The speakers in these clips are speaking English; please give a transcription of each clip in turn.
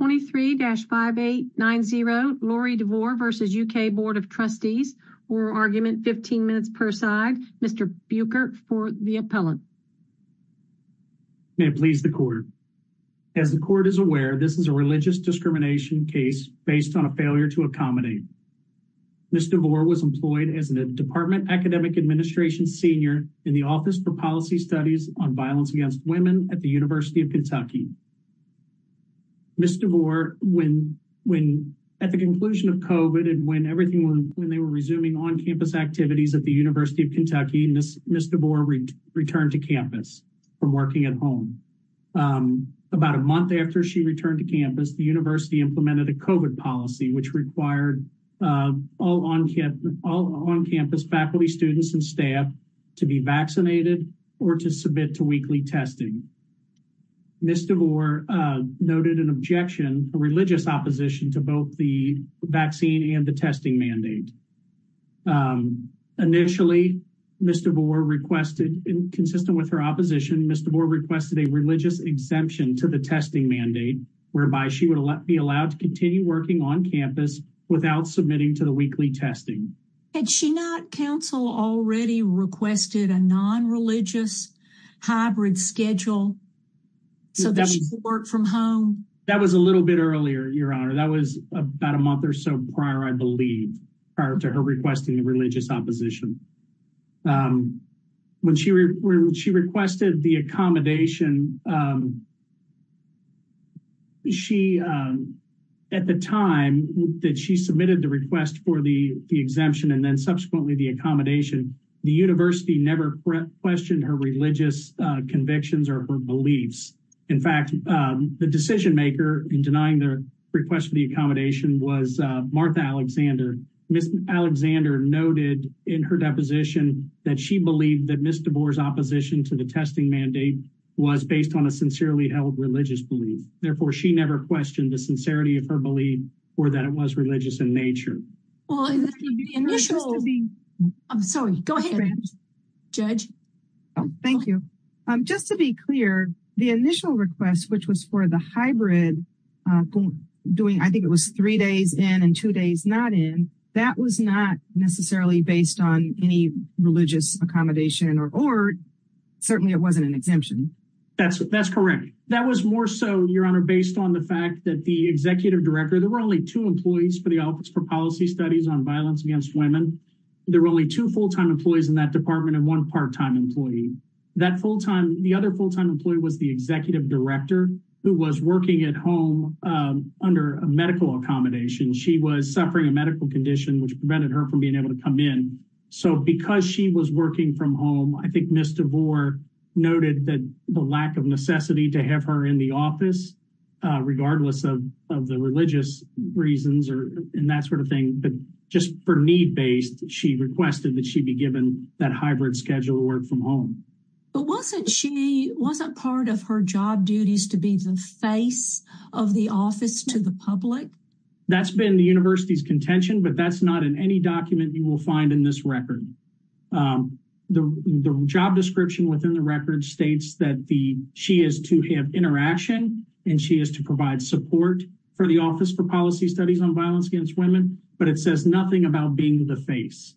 23-5890 Lori DeVore v. UK Board of Trustees oral argument 15 minutes per side Mr. Buchert for the appellate. May it please the court. As the court is aware this is a religious discrimination case based on a failure to accommodate. Ms. DeVore was employed as a department academic administration senior in the office for policy studies on violence against women at the University of Kentucky. Ms. DeVore when at the conclusion of COVID and when everything when they were resuming on-campus activities at the University of Kentucky, Ms. DeVore returned to campus from working at home. About a month after she returned to campus the university implemented a COVID policy which required all on-campus faculty, students, and staff to be vaccinated or to submit to weekly testing. Ms. DeVore noted an objection, a religious opposition, to both the vaccine and the testing mandate. Initially Ms. DeVore requested, consistent with her opposition, Ms. DeVore requested a religious exemption to the testing mandate whereby she would be allowed to continue working on campus without submitting to the weekly testing. Had she not, counsel, already requested a non-religious hybrid schedule so that she could work from home? That was a little bit earlier, your honor. That was about a month or so prior, I believe, prior to her requesting a religious opposition. When she requested the accommodation, at the time that she submitted the request for the exemption and then subsequently the accommodation, the university never questioned her religious convictions or her beliefs. In fact, the decision-maker in denying their request for the accommodation was Martha Alexander. Ms. Alexander noted in her deposition that she believed that Ms. DeVore's opposition to the testing mandate was based on a sincerely held religious belief. Therefore, she never questioned the sincerity of her belief or that it was religious in nature. I'm sorry, go ahead, judge. Thank you. Just to be clear, the initial request, which was for the hybrid, I think it was three days in and two days not in, that was not necessarily based on any religious accommodation or certainly it wasn't an exemption. That's correct. That was more so, your honor, based on the fact that the executive director, there were only two employees for the Office for Policy Studies on Violence Against Women. There were only two full-time employees in that department and one part-time employee. That full-time, the other full-time employee was the executive director who was working at home under a medical accommodation. She was suffering a medical condition which prevented her from being able to come in. So because she was working from home, I think Ms. DeVore noted that the lack of necessity to have her in the office, regardless of the religious reasons and that sort of thing, but just for need-based, she requested that she be given that hybrid schedule to work from home. But wasn't she, wasn't part of her job duties to be the face of the office to the public? That's been the university's contention, but that's not in any document you will find in this record. The job description within the record states that she is to have interaction and she is to provide support for the Office for Policy Studies on Violence Against Women, but it says nothing about being the face.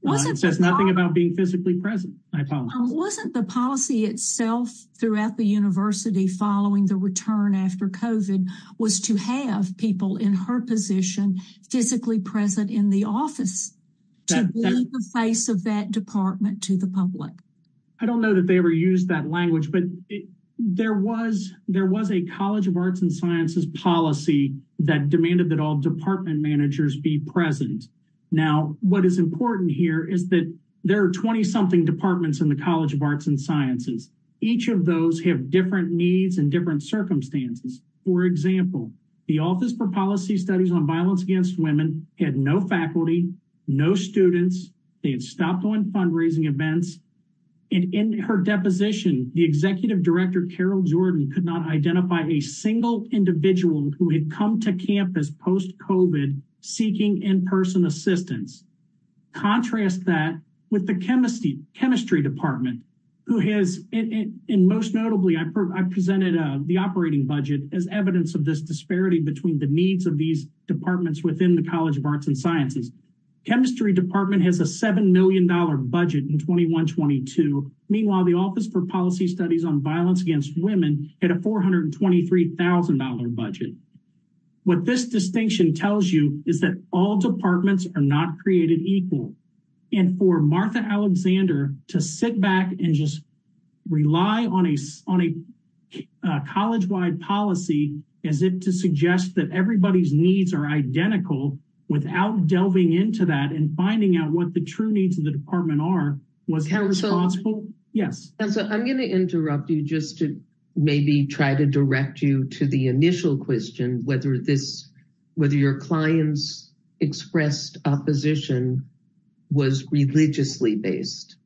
It says nothing about being physically present. Wasn't the policy itself throughout the university following the return after COVID was to have people in her position physically present in the office to be the face of that department to the public? I don't know that they ever used that language, but there was, there was a College of Arts and Sciences policy that demanded that all department managers be present. Now, what is important here is that there are 20-something departments in the College of Arts and Sciences. Each of those have different needs and different circumstances. For example, the Office for Policy Studies on Violence Against Women had no faculty, no students. They had stopped on fundraising events, and in her deposition, the executive director, Carol Jordan, could not identify a single individual who had come to campus post-COVID seeking in-person assistance. Contrast that with the chemistry department, who has, and most notably, I presented the operating budget as evidence of this disparity between the needs of these departments within the College of Arts and Sciences. Chemistry department has a $7 million budget in 21-22. Meanwhile, the Office for Policy Studies on Violence Against Women had a $423,000 budget. What this distinction tells you is that all departments are not created equal, and for Martha Alexander to sit back and just rely on a college-wide policy, as if to suggest that everybody's needs are identical, without delving into that and finding out what the true needs of the department are, was how responsible. Yes, and so I'm gonna interrupt you just to maybe try to direct you to the initial question, whether this, whether your clients expressed opposition was religiously based.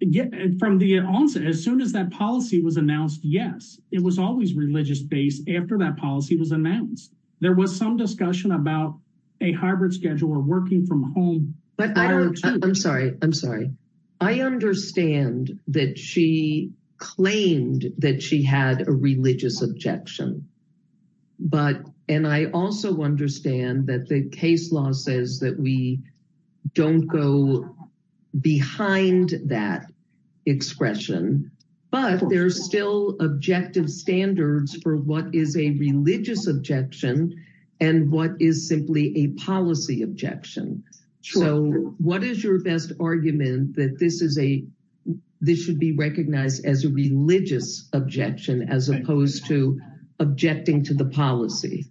Yeah, from the onset, as soon as that policy was announced, yes, it was always religious-based after that policy was announced. There was some discussion about a hybrid schedule or working from home. But I'm sorry, I'm sorry, I understand that she claimed that she had a religious objection, but, and I also understand that the case law says that we don't go behind that expression, but there's still objective standards for what is a religious objection and what is simply a policy objection. So what is your best argument that this is a, this should be recognized as a religious objection, as opposed to objecting to the policy?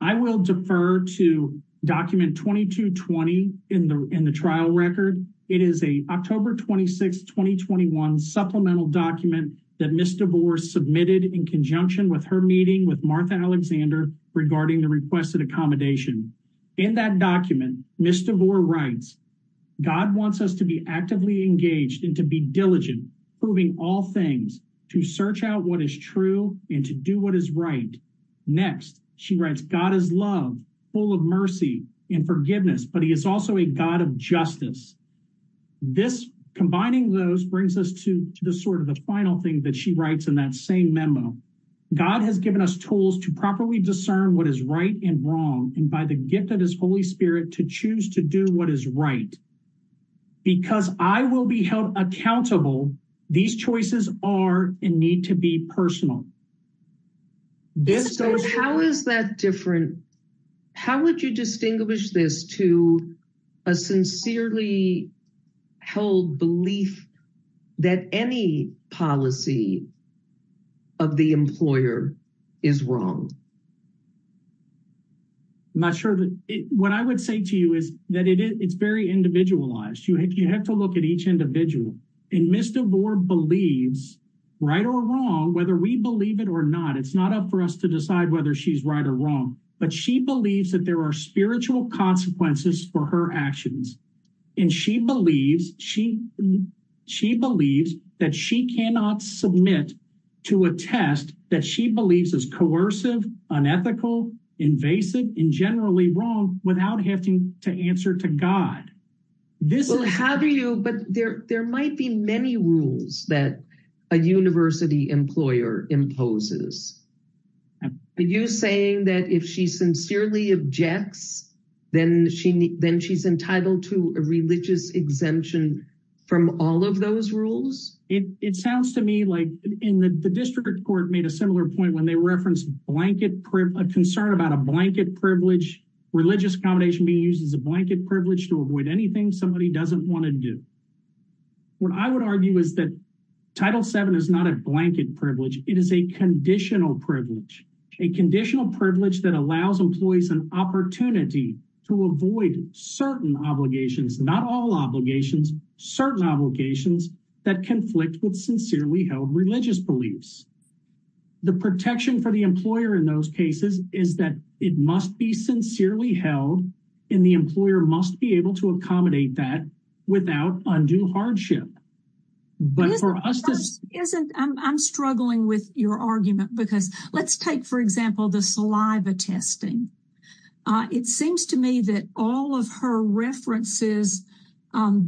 I will defer to document 2220 in the, in the trial record. It is a October 26, 2021 supplemental document that Ms. DeVore submitted in conjunction with her meeting with Martha Alexander regarding the requested accommodation. In that document, Ms. DeVore writes, God wants us to be actively engaged and to be diligent, proving all things, to search out what is true and to do what is right. Next, she writes, God is love, full of mercy and forgiveness, but he is also a God of justice. This combining those brings us to the sort of the final thing that she writes in that same memo. God has given us tools to properly discern what is right and wrong and by the gift of his Holy Spirit to choose to do what is right, because I will be held accountable. These choices are and need to be personal. This, so how is that different? How would you distinguish this to a sincerely held belief that any policy of the employer is wrong? I'm not sure that, what I would say to you is that it is, it's very individualized. You have, you have to look at each individual and Ms. DeVore believes right or wrong, whether we believe it or not, it's not up for us to decide whether she's right or wrong, but she believes that there are spiritual consequences for her actions. And she believes, she, she believes that she cannot submit to a test that she believes is coercive, unethical, invasive, and generally wrong without having to answer to God. This is, how do you, but there, there might be many rules that a university employer imposes. Are you saying that if she sincerely objects, then she, then she's entitled to a religious exemption from all of those rules? It, it sounds to me like in the district court made a similar point when they referenced blanket, a concern about a blanket privilege, religious accommodation being used as a blanket privilege to avoid anything somebody doesn't want to do. What I would argue is that Title VII is not a blanket privilege. It is a conditional privilege, a conditional privilege that allows employees an opportunity to avoid certain obligations, not all obligations, certain obligations that conflict with sincerely held religious beliefs. The protection for the employer in those cases is that it must be sincerely held and the employer must be able to accommodate that without undue hardship. But for us to- Isn't, isn't, I'm, I'm struggling with your argument because let's take, for example, the saliva testing. It seems to me that all of her references,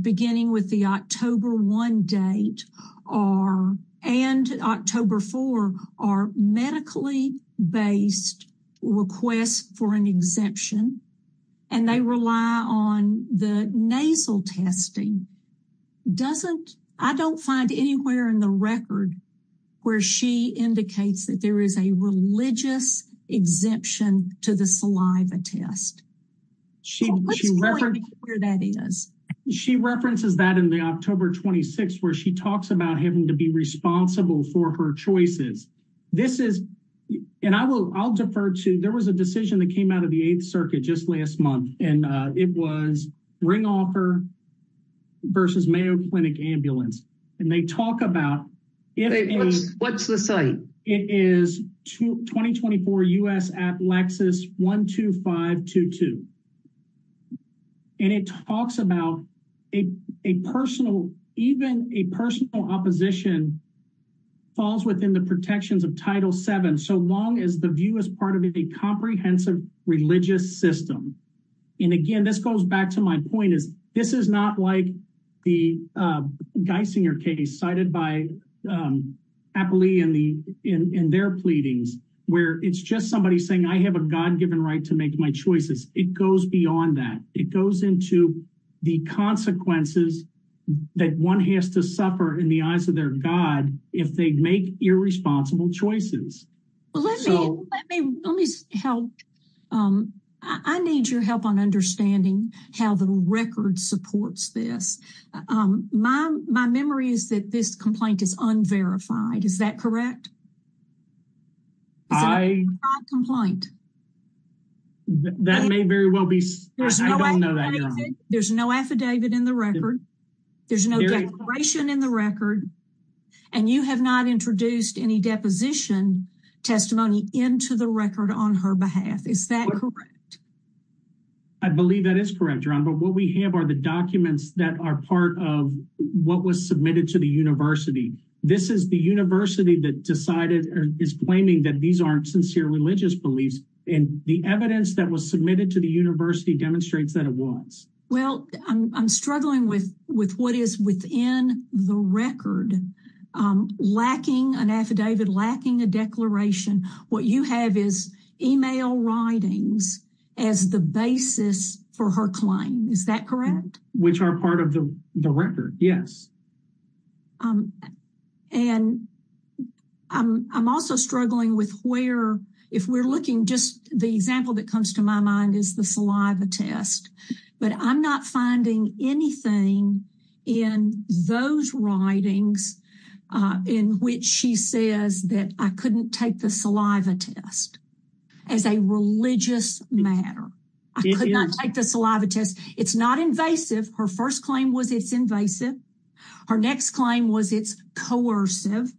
beginning with the October 1 date are, and October 4, are medically based requests for an exemption. And they rely on the nasal testing. Doesn't, I don't find anywhere in the record where she indicates that there is a religious exemption to the saliva test. She references that in the October 26, where she talks about having to be responsible for her choices. This is, and I will, I'll defer to, there was a decision that came out of the Eighth Circuit just last month, and it was Ring Offer versus Mayo Clinic Ambulance. And they talk about- What's the site? It is 2024 U.S. Applexus 12522. And it talks about a personal, even a personal opposition falls within the protections of Title VII, so long as the view is part of a comprehensive religious system. And again, this goes back to my point is this is not like the Geisinger case cited by Appley in the, in their pleadings, where it's just somebody saying, I have a God-given right to make my choices. It goes beyond that. It goes into the consequences that one has to suffer in the eyes of their God if they make irresponsible choices. Let me, let me help. I need your help on understanding how the record supports this. My memory is that this complaint is unverified. Is that correct? I- That may very well be- There's no affidavit in the record. There's no declaration in the record. And you have not introduced any deposition testimony into the record on her behalf. Is that correct? I believe that is correct, Ron. But what we have are the documents that are part of what was submitted to the university. This is the university that decided, is claiming that these aren't sincere religious beliefs. And the evidence that was submitted to the university demonstrates that it was. Well, I'm struggling with, with what is within the record. Lacking an affidavit, lacking a declaration. What you have is email writings as the basis for her claim. Is that correct? Which are part of the record, yes. And I'm also struggling with where, if we're looking, just the example that comes to my mind is the saliva test. But I'm not finding anything in those writings in which she says that I couldn't take the saliva test as a religious matter. I could not take the saliva test. It's not invasive. Her first claim was it's invasive. Her next claim was it's coercive.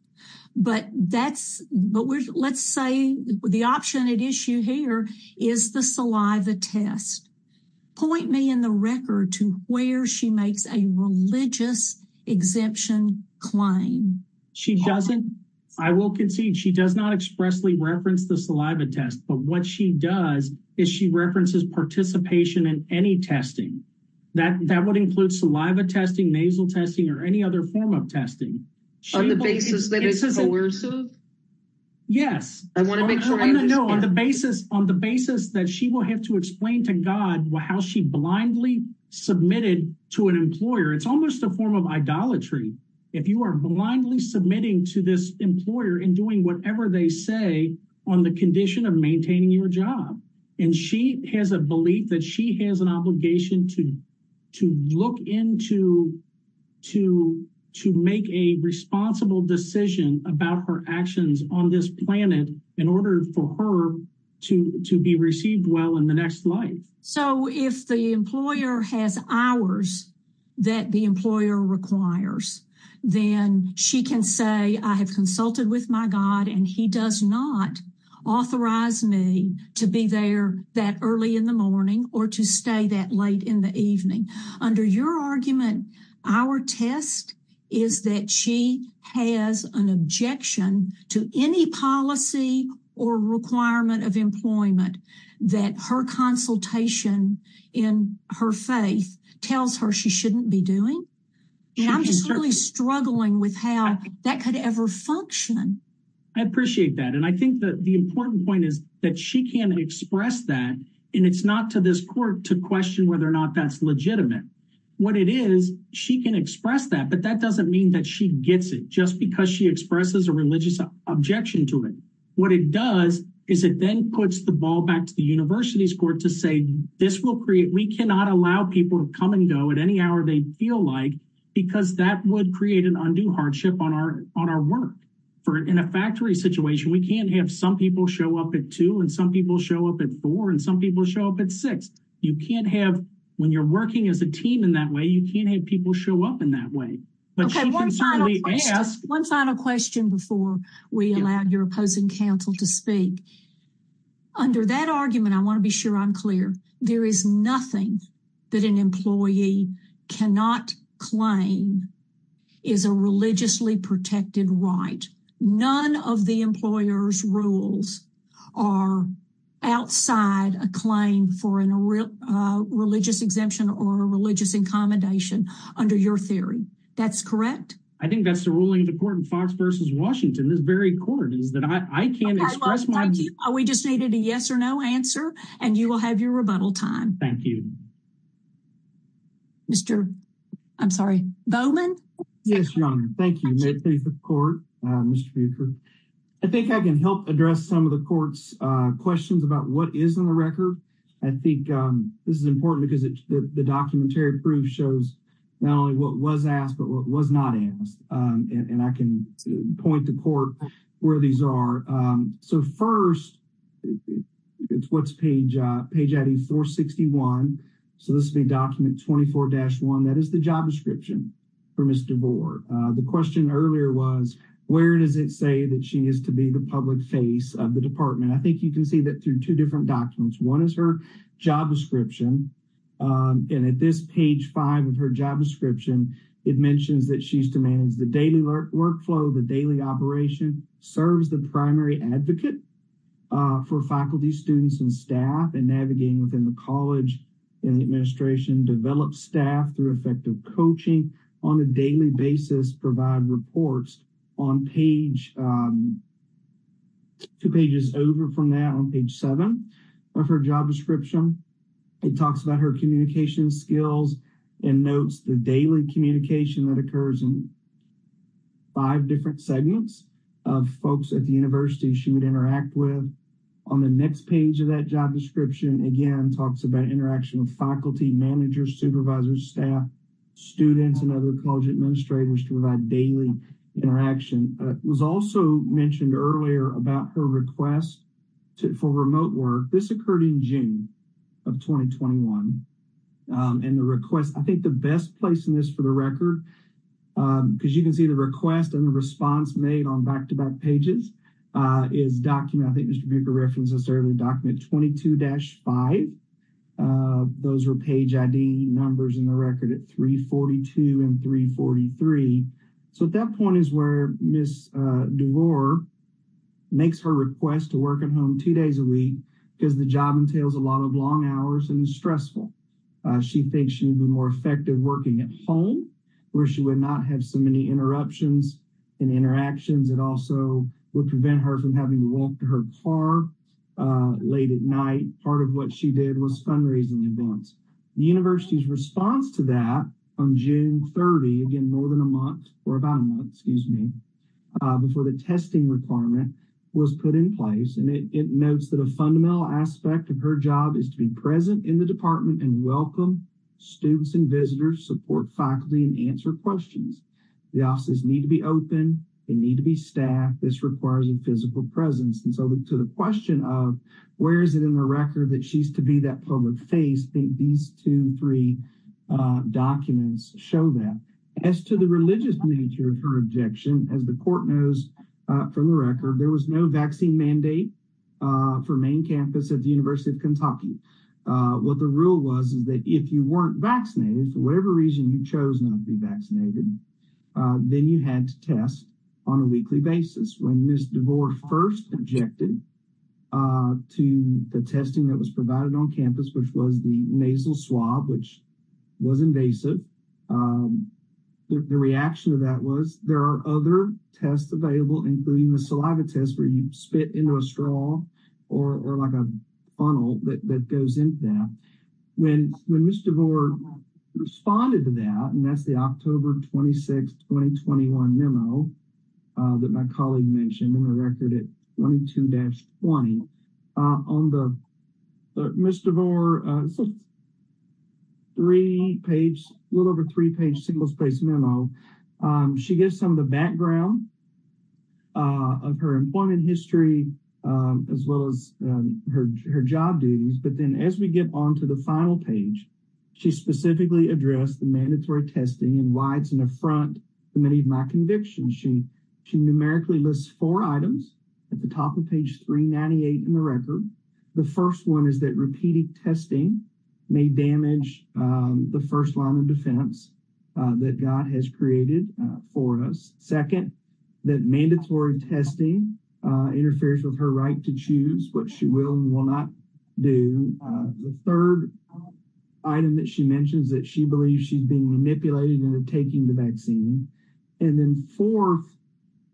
But that's, but let's say the option at issue here is the saliva test. Point me in the record to where she makes a religious exemption claim. She doesn't. I will concede she does not expressly reference the saliva test. But what she does is she references participation in any testing. That that would include saliva testing, nasal testing or any other form of testing. On the basis that it's coercive? Yes, I want to make sure I know on the basis on the basis that she will have to explain to God how she blindly submitted to an employer. It's almost a form of idolatry. If you are blindly submitting to this employer and doing whatever they say, on the condition of maintaining your job, and she has a belief that she has an actions on this planet in order for her to be received well in the next life. So if the employer has hours that the employer requires, then she can say I have consulted with my God and he does not authorize me to be there that early in the morning or to stay that late in the evening. Under your argument, our test is that she has an objection to any policy or requirement of employment that her consultation in her faith tells her she shouldn't be doing. And I'm just really struggling with how that could ever function. I appreciate that. And I think that the important point is that she can express that. And it's not to this court to question whether or not that's legitimate. What it is, she can express that. But that doesn't mean that she gets it just because she expresses a religious objection to it. What it does is it then puts the ball back to the university's court to say this will create we cannot allow people to come and go at any hour they feel like, because that would create an undue hardship on our on our work. For in a factory situation, we can't have some people show up at two and some people show up at four and some people show up at six. You can't have when you're working as a team in that way. You can't have people show up in that way. Okay, one final question before we allow your opposing counsel to speak. Under that argument, I want to be sure I'm clear. There is nothing that an employee cannot claim is a religiously protected right. None of the employer's rules are outside a claim for in a real religious exemption or a religious incommendation. Under your theory. That's correct. I think that's the ruling of the court in Fox versus Washington. This very court is that I can't express my view. We just needed a yes or no answer. And you will have your rebuttal time. Thank you. Mr. I'm sorry, Bowman. Yes, Your Honor. Thank you. May it please the court, Mr. Buecher. I think I can help address some of the court's questions about what is on the record. I think this is important because the documentary proof shows not only what was asked, but what was not asked. And I can point the court where these are. So first, it's what's page, page 8461. So this big document 24-1, that is the job description for Mr. Boer. The question earlier was, where does it say that she is to be the public face of the department? I think you can see that through two different documents. One is her job description. And at this page five of her job description, it mentions that she's to manage the daily work workflow, the daily operation, serves the primary advocate for faculty, students and staff and navigating within the college and the administration develop staff through effective coaching on a daily basis, provide reports on page, two pages over from that on page seven of her job description. It talks about her communication skills, and notes the daily communication that occurs in five different segments of folks at the university she would interact with. On the next page of that job description, again talks about interaction with faculty, managers, supervisors, staff, students and other college administrators to provide daily interaction was also mentioned earlier about her request for remote work. This occurred in June of 2021. And the request, I think the best place in this for the record, because you can see the request and the response made on back to back pages is document, I think Mr. Buecher referenced this earlier, document 22-5. Those are page ID numbers in the record at 342 and 343. So at that point is where Ms. DeVore makes her request to work at home two days a week, because the job entails a lot of long hours and stressful. She thinks she'd be more effective working at home, where she would not have so many interruptions and interactions. It also would prevent her from having to walk to her car late at night. Part of what she did was fundraising events. The university's response to that on June 30, again, more than a month or about a month, excuse me, before the testing requirement was put in place. And it notes that a fundamental aspect of her job is to be present in the department and welcome students and visitors, support faculty and answer questions. The offices need to be open, they need to be staffed, this requires a physical presence. And so to the question of where is it in the record that she's to be that public face, these two, three documents show that. As to the religious nature of her objection, as the court knows from the record, there was no vaccine mandate for main campus at the University of Kentucky. What the rule was is that if you weren't vaccinated, for whatever reason you chose not to be vaccinated, then you had to test on a weekly basis. When Ms. DeVore first objected to the testing that was provided on campus, which was the nasal swab, which was invasive, the reaction to that was there are other tests available, including the saliva test where you spit into a straw or like a funnel that goes into that. When Ms. DeVore responded to that, and that's the October 26, 2021 memo that my colleague mentioned in the record at 22-20. On the Ms. DeVore three page, a little over three page single space memo, she gives some of the background of her employment history, as well as her job duties. But then as we get on to the final page, she specifically addressed the mandatory testing and why it's an affront to many of my convictions. She numerically lists four items at the top of page 398 in the record. The first one is that repeated testing may damage the first line of defense that God has created for us. Second, that mandatory testing interferes with her right to choose what she will and will not do. The third item that she mentions that she believes she's being manipulated into taking the vaccine. And then fourth,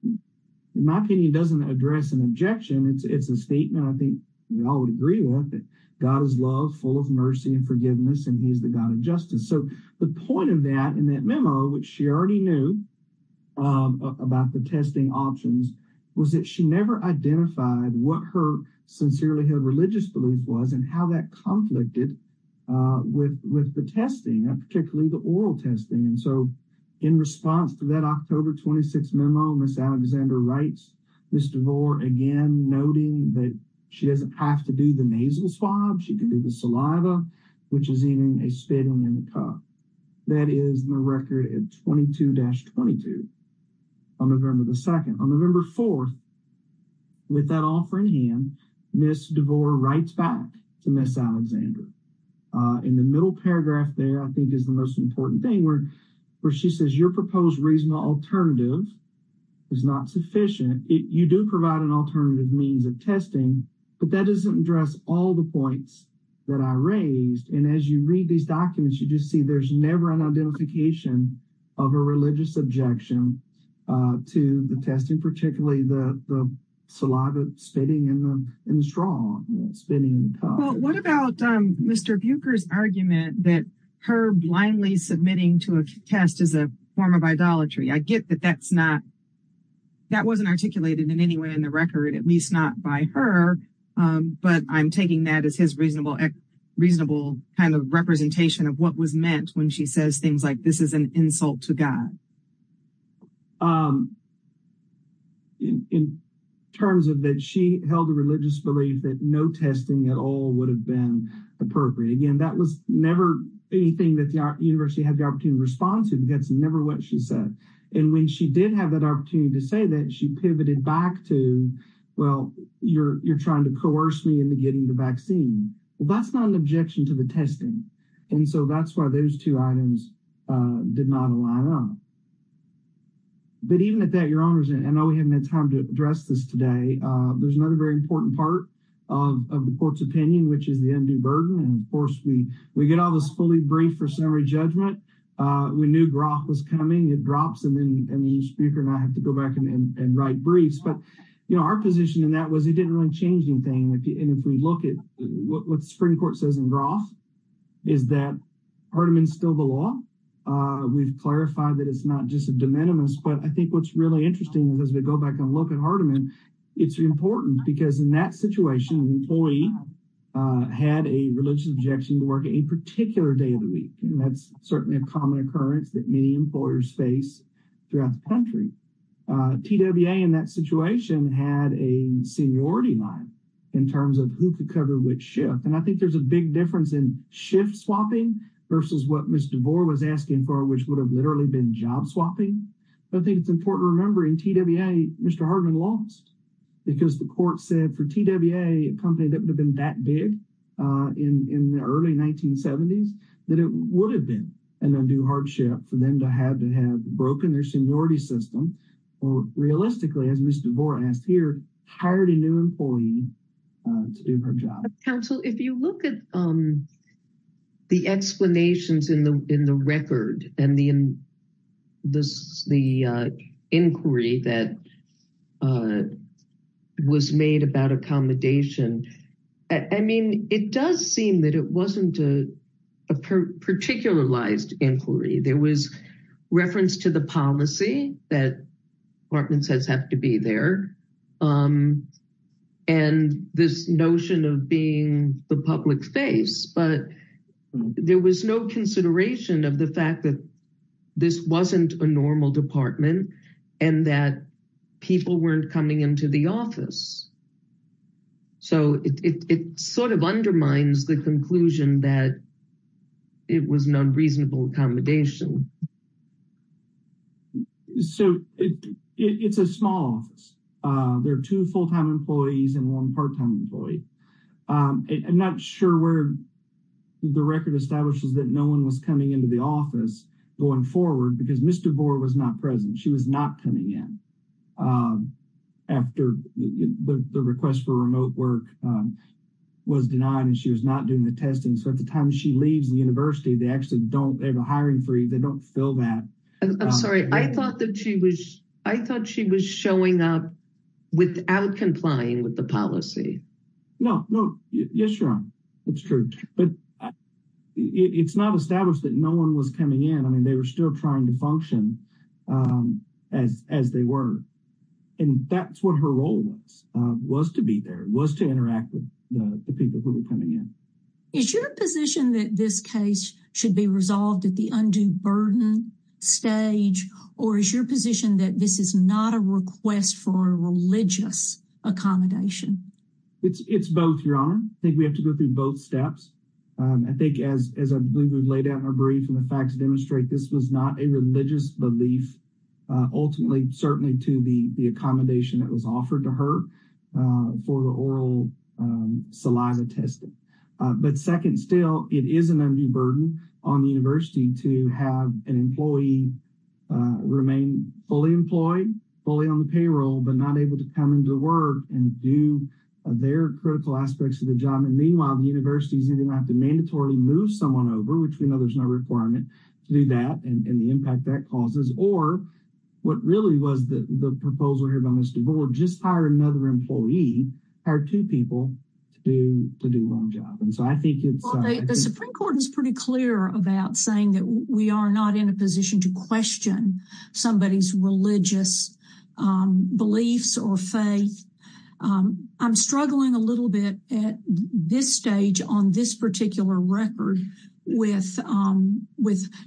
in my opinion, doesn't address an objection. It's a statement I think we all would agree with, that God is love, full of mercy and forgiveness, and he's the God of justice. So the point of that in that memo, which she already knew about the testing options, was that she never identified what her sincerely held religious belief was and how that conflicted with the testing, particularly the oral testing. And so in response to that October 26 memo, Ms. Alexander writes Ms. DeVore again noting that she doesn't have to do the nasal swab. She can do the saliva, which is eating a spittle in the cup. That is in the record at 22-22 on November the 2nd. On In the middle paragraph there, I think is the most important thing where she says your proposed reasonable alternative is not sufficient. You do provide an alternative means of testing, but that doesn't address all the points that I raised. And as you read these documents, you just see there's never an identification of a religious objection to the testing, particularly the saliva spitting in the straw, spitting in the cup. What about Mr. Buecher's argument that her blindly submitting to a test is a form of idolatry? I get that that's not, that wasn't articulated in any way in the record, at least not by her, but I'm taking that as his reasonable kind of representation of what was meant when she says things like this is an insult to God. In terms of that, she held a religious belief that no testing at all would have been appropriate. Again, that was never anything that the university had the opportunity to respond to. That's never what she said. And when she did have that opportunity to say that, she pivoted back to, well, you're trying to coerce me into getting the vaccine. Well, that's not an option. Those two items did not align up. But even at that, Your Honors, I know we haven't had time to address this today. There's another very important part of the court's opinion, which is the undue burden. And of course, we get all this fully briefed for summary judgment. We knew Groff was coming. It drops and then you, Speaker, and I have to go back and write briefs. But, you know, our position in that was it didn't really change anything. And if we look at what the Supreme Court says in Groff is that Hardeman's still the law. We've clarified that it's not just a de minimis. But I think what's really interesting is as we go back and look at Hardeman, it's important because in that situation, an employee had a religious objection to work a particular day of the week. And that's certainly a common occurrence that many employers face throughout the country. TWA in that situation had a seniority line in terms of who could cover which shift. And I think there's a big difference in shift swapping versus what Ms. DeVore was asking for, which would have literally been job swapping. But I think it's important to remember in TWA, Mr. Hardeman lost because the court said for TWA, a company that would have been that big in the early 1970s, that it would have been an undue hardship for them to have to have broken their seniority system. Or realistically, as Ms. DeVore asked here, hired a new employee to do her job. Counsel, if you look at the explanations in the record and the inquiry that was made about accommodation, I mean, it does seem that it wasn't a particularized inquiry. There was reference to the policy that Hartman says have to be there. And this notion of being the public face, but there was no consideration of the fact that this wasn't a normal department and that people weren't coming into the office. So it sort of undermines the conclusion that it was an unreasonable accommodation. So it's a small office. There are two full-time employees and one part-time employee. I'm not sure where the record establishes that no one was coming into the office going forward because Ms. DeVore was not present. She was not coming in after the request for remote work was denied and she was not doing the testing. So at the time she leaves the university, they actually don't have a hiring freeze. They don't fill that. I'm sorry. I thought that she was showing up without complying with the policy. No, no. Yes, you're on. It's true. But it's not established that no one was coming in. I mean, they were still trying to function as they were. And that's what her role was, was to be there, was to interact with the people who were coming in. Is your position that this case should be resolved at the undue burden stage, or is your position that this is not a request for a religious accommodation? It's both, Your Honor. I think we have to go through both steps. I think as I believe we've laid out in our brief and the facts demonstrate, this was not a religious belief, ultimately, certainly to the accommodation that was offered to her for the oral saliva testing. But second still, it is an undue burden on the university to have an employee remain fully employed, fully on the payroll, but not able to come into work and do their critical aspects of the job. And meanwhile, the university is going to have to mandatorily move someone over, which we know there's no requirement to do that and the impact that or what really was the proposal here by Ms. DeVore, just hire another employee, hire two people to do one job. And so I think it's... The Supreme Court is pretty clear about saying that we are not in a position to question somebody's religious beliefs or faith. I'm struggling a little bit at this stage on this particular record with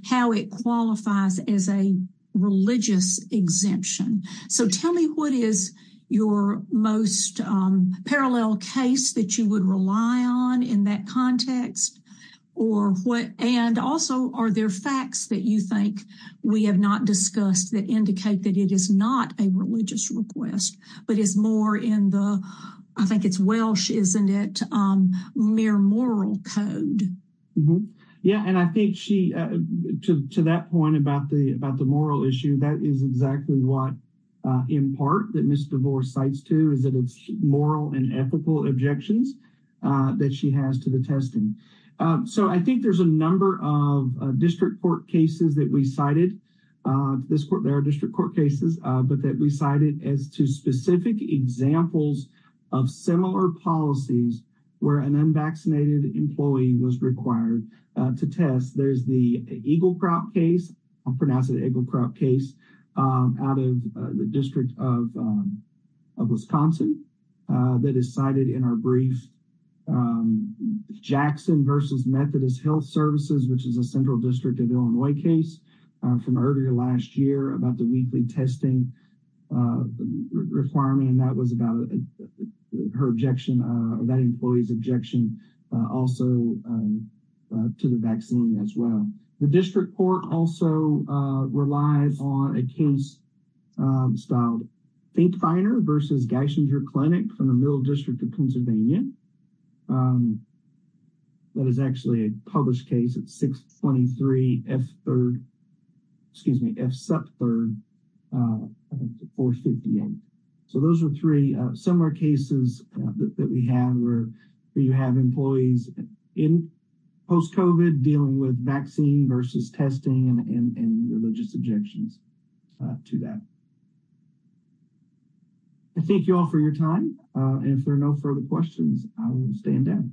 how it qualifies as a religious exemption. So tell me what is your most parallel case that you would rely on in that context? And also, are there facts that you think we have not discussed that indicate that it is not a religious request, but is more in the... I think it's else, isn't it? Mere moral code. Yeah. And I think she, to that point about the moral issue, that is exactly what, in part, that Ms. DeVore cites too, is that it's moral and ethical objections that she has to the testing. So I think there's a number of district court cases that we cited. There are district court cases, but that we cited as two specific examples of similar policies where an unvaccinated employee was required to test. There's the Eagle Crop case, I'll pronounce it Eagle Crop case, out of the District of Wisconsin that is cited in our brief. Jackson versus Methodist Health Services, which is a central district of Illinois case from earlier last year about the weekly testing requirement. And that was about her objection or that employee's objection also to the vaccine as well. The district court also relies on a case styled Fink-Finer versus Geisinger Clinic from the Middle District of Pennsylvania. That is actually a published case. It's 623 F Third, excuse me, F Sup Third, 458. So those are three similar cases that we have where you have employees in post-COVID dealing with vaccine versus testing and religious objections to that. I thank you all for your time. And if there are no further questions, I will stand down.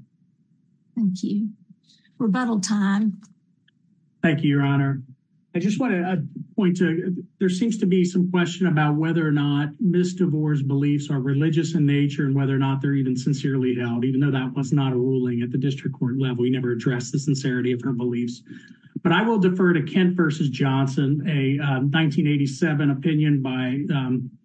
Thank you. Rebuttal time. Thank you, Your Honor. I just want to point to, there seems to be some question about whether or not misdivorced beliefs are religious in nature and whether or not they're even sincerely held, even though that was not a ruling at the district court level. We never addressed the sincerity of her beliefs. But I will defer to Kent versus Johnson, a 1987 opinion by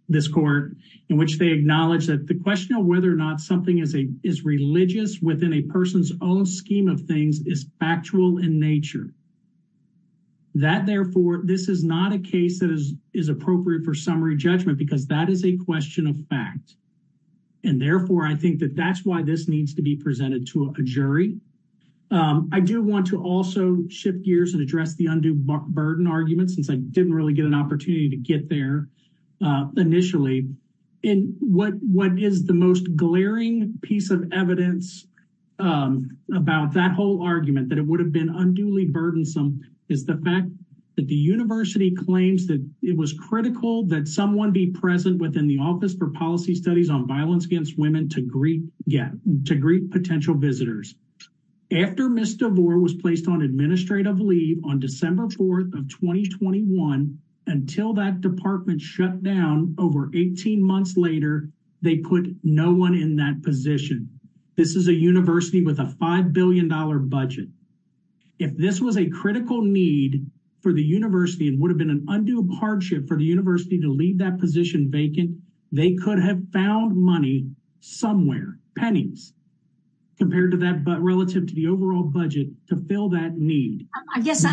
this court, in which they acknowledge that the question of whether or not something is religious within a person's own scheme of things is factual in nature. That, therefore, this is not a case that is appropriate for summary judgment because that is a question of fact. And therefore, I think that that's why this needs to be presented to a jury. I do want to also shift gears and address the undue burden argument, since I didn't really get an opportunity to get there initially. And what is the most glaring piece of evidence about that whole argument, that it would have been unduly burdensome, is the fact that the university claims that it was critical that someone be present within the Office for Policy Studies on Violence Against Women to greet potential visitors. After Ms. DeVore was placed on administrative leave on December 4th of 2021, until that department shut down over 18 months later, they put no one in that position. This is a university with a $5 billion budget. If this was a critical need for the university and would have been an undue hardship for the university to leave that position vacant, they could have found money somewhere, pennies, compared to that, but relative to the overall budget, to fill that need. I guess,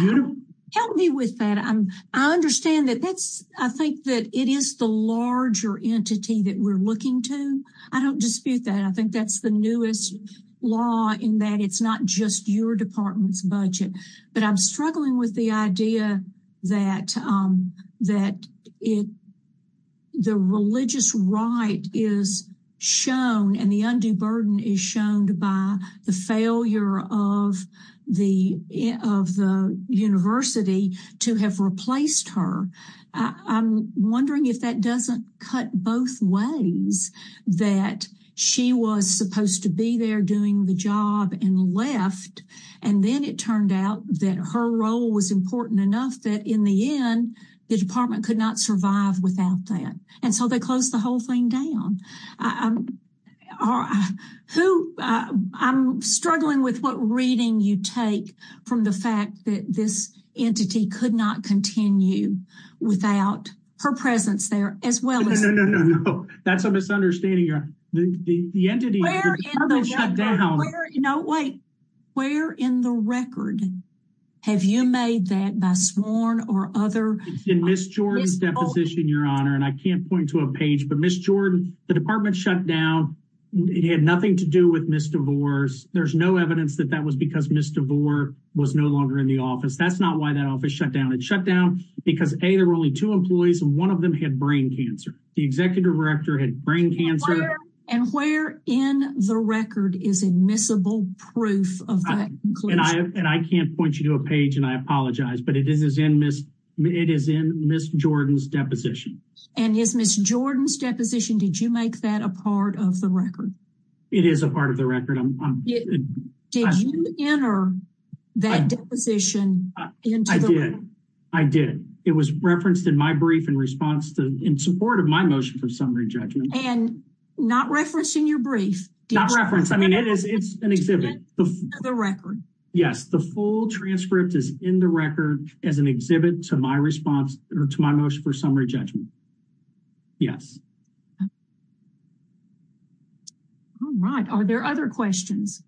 help me with that. I understand that that's, I think that it is the larger entity that we're looking to. I don't dispute that. I think that's the newest law in that it's not just your department's budget. But I'm struggling with the idea that the religious right is shown and the undue burden is by the failure of the university to have replaced her. I'm wondering if that doesn't cut both ways that she was supposed to be there doing the job and left. And then it turned out that her role was important enough that in the end, the department could not without that. And so they closed the whole thing down. I'm struggling with what reading you take from the fact that this entity could not continue without her presence there as well. No, no, no, no, no. That's a misunderstanding. The entity shut down. Where in the record have you made that by sworn or other? In Ms. Jordan's deposition, Your Honor, and I can't point to a page, but Ms. Jordan, the department shut down. It had nothing to do with Ms. DeVore. There's no evidence that that was because Ms. DeVore was no longer in the office. That's not why that office shut down. It shut down because, A, there were only two employees and one of them had brain cancer. The executive director had brain cancer. And where in the record is admissible proof of that? And I can't point you to a page, and I apologize, but it is in Ms. Jordan's deposition. And is Ms. Jordan's deposition, did you make that a part of the record? It is a part of the record. Did you enter that deposition into the record? I did. It was referenced in my brief in response to, in support of my motion for summary judgment. And not referenced in your brief? Not referenced. I mean, it's an exhibit. The record. Yes, the full transcript is in the record as an exhibit to my response, or to my motion for summary judgment. Yes. All right. Are there other questions?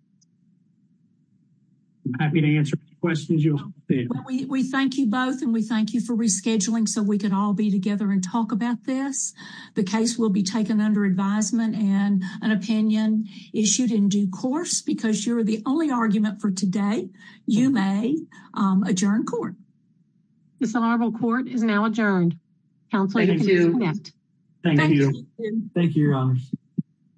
I'm happy to answer questions you'll have later. We thank you both, and we thank you for rescheduling so we could all be together and talk about this. The case will be taken under advisement and an opinion issued in due course because you're the only argument for today. You may adjourn court. The Honorable Court is now adjourned. Thank you. Thank you, Your Honors.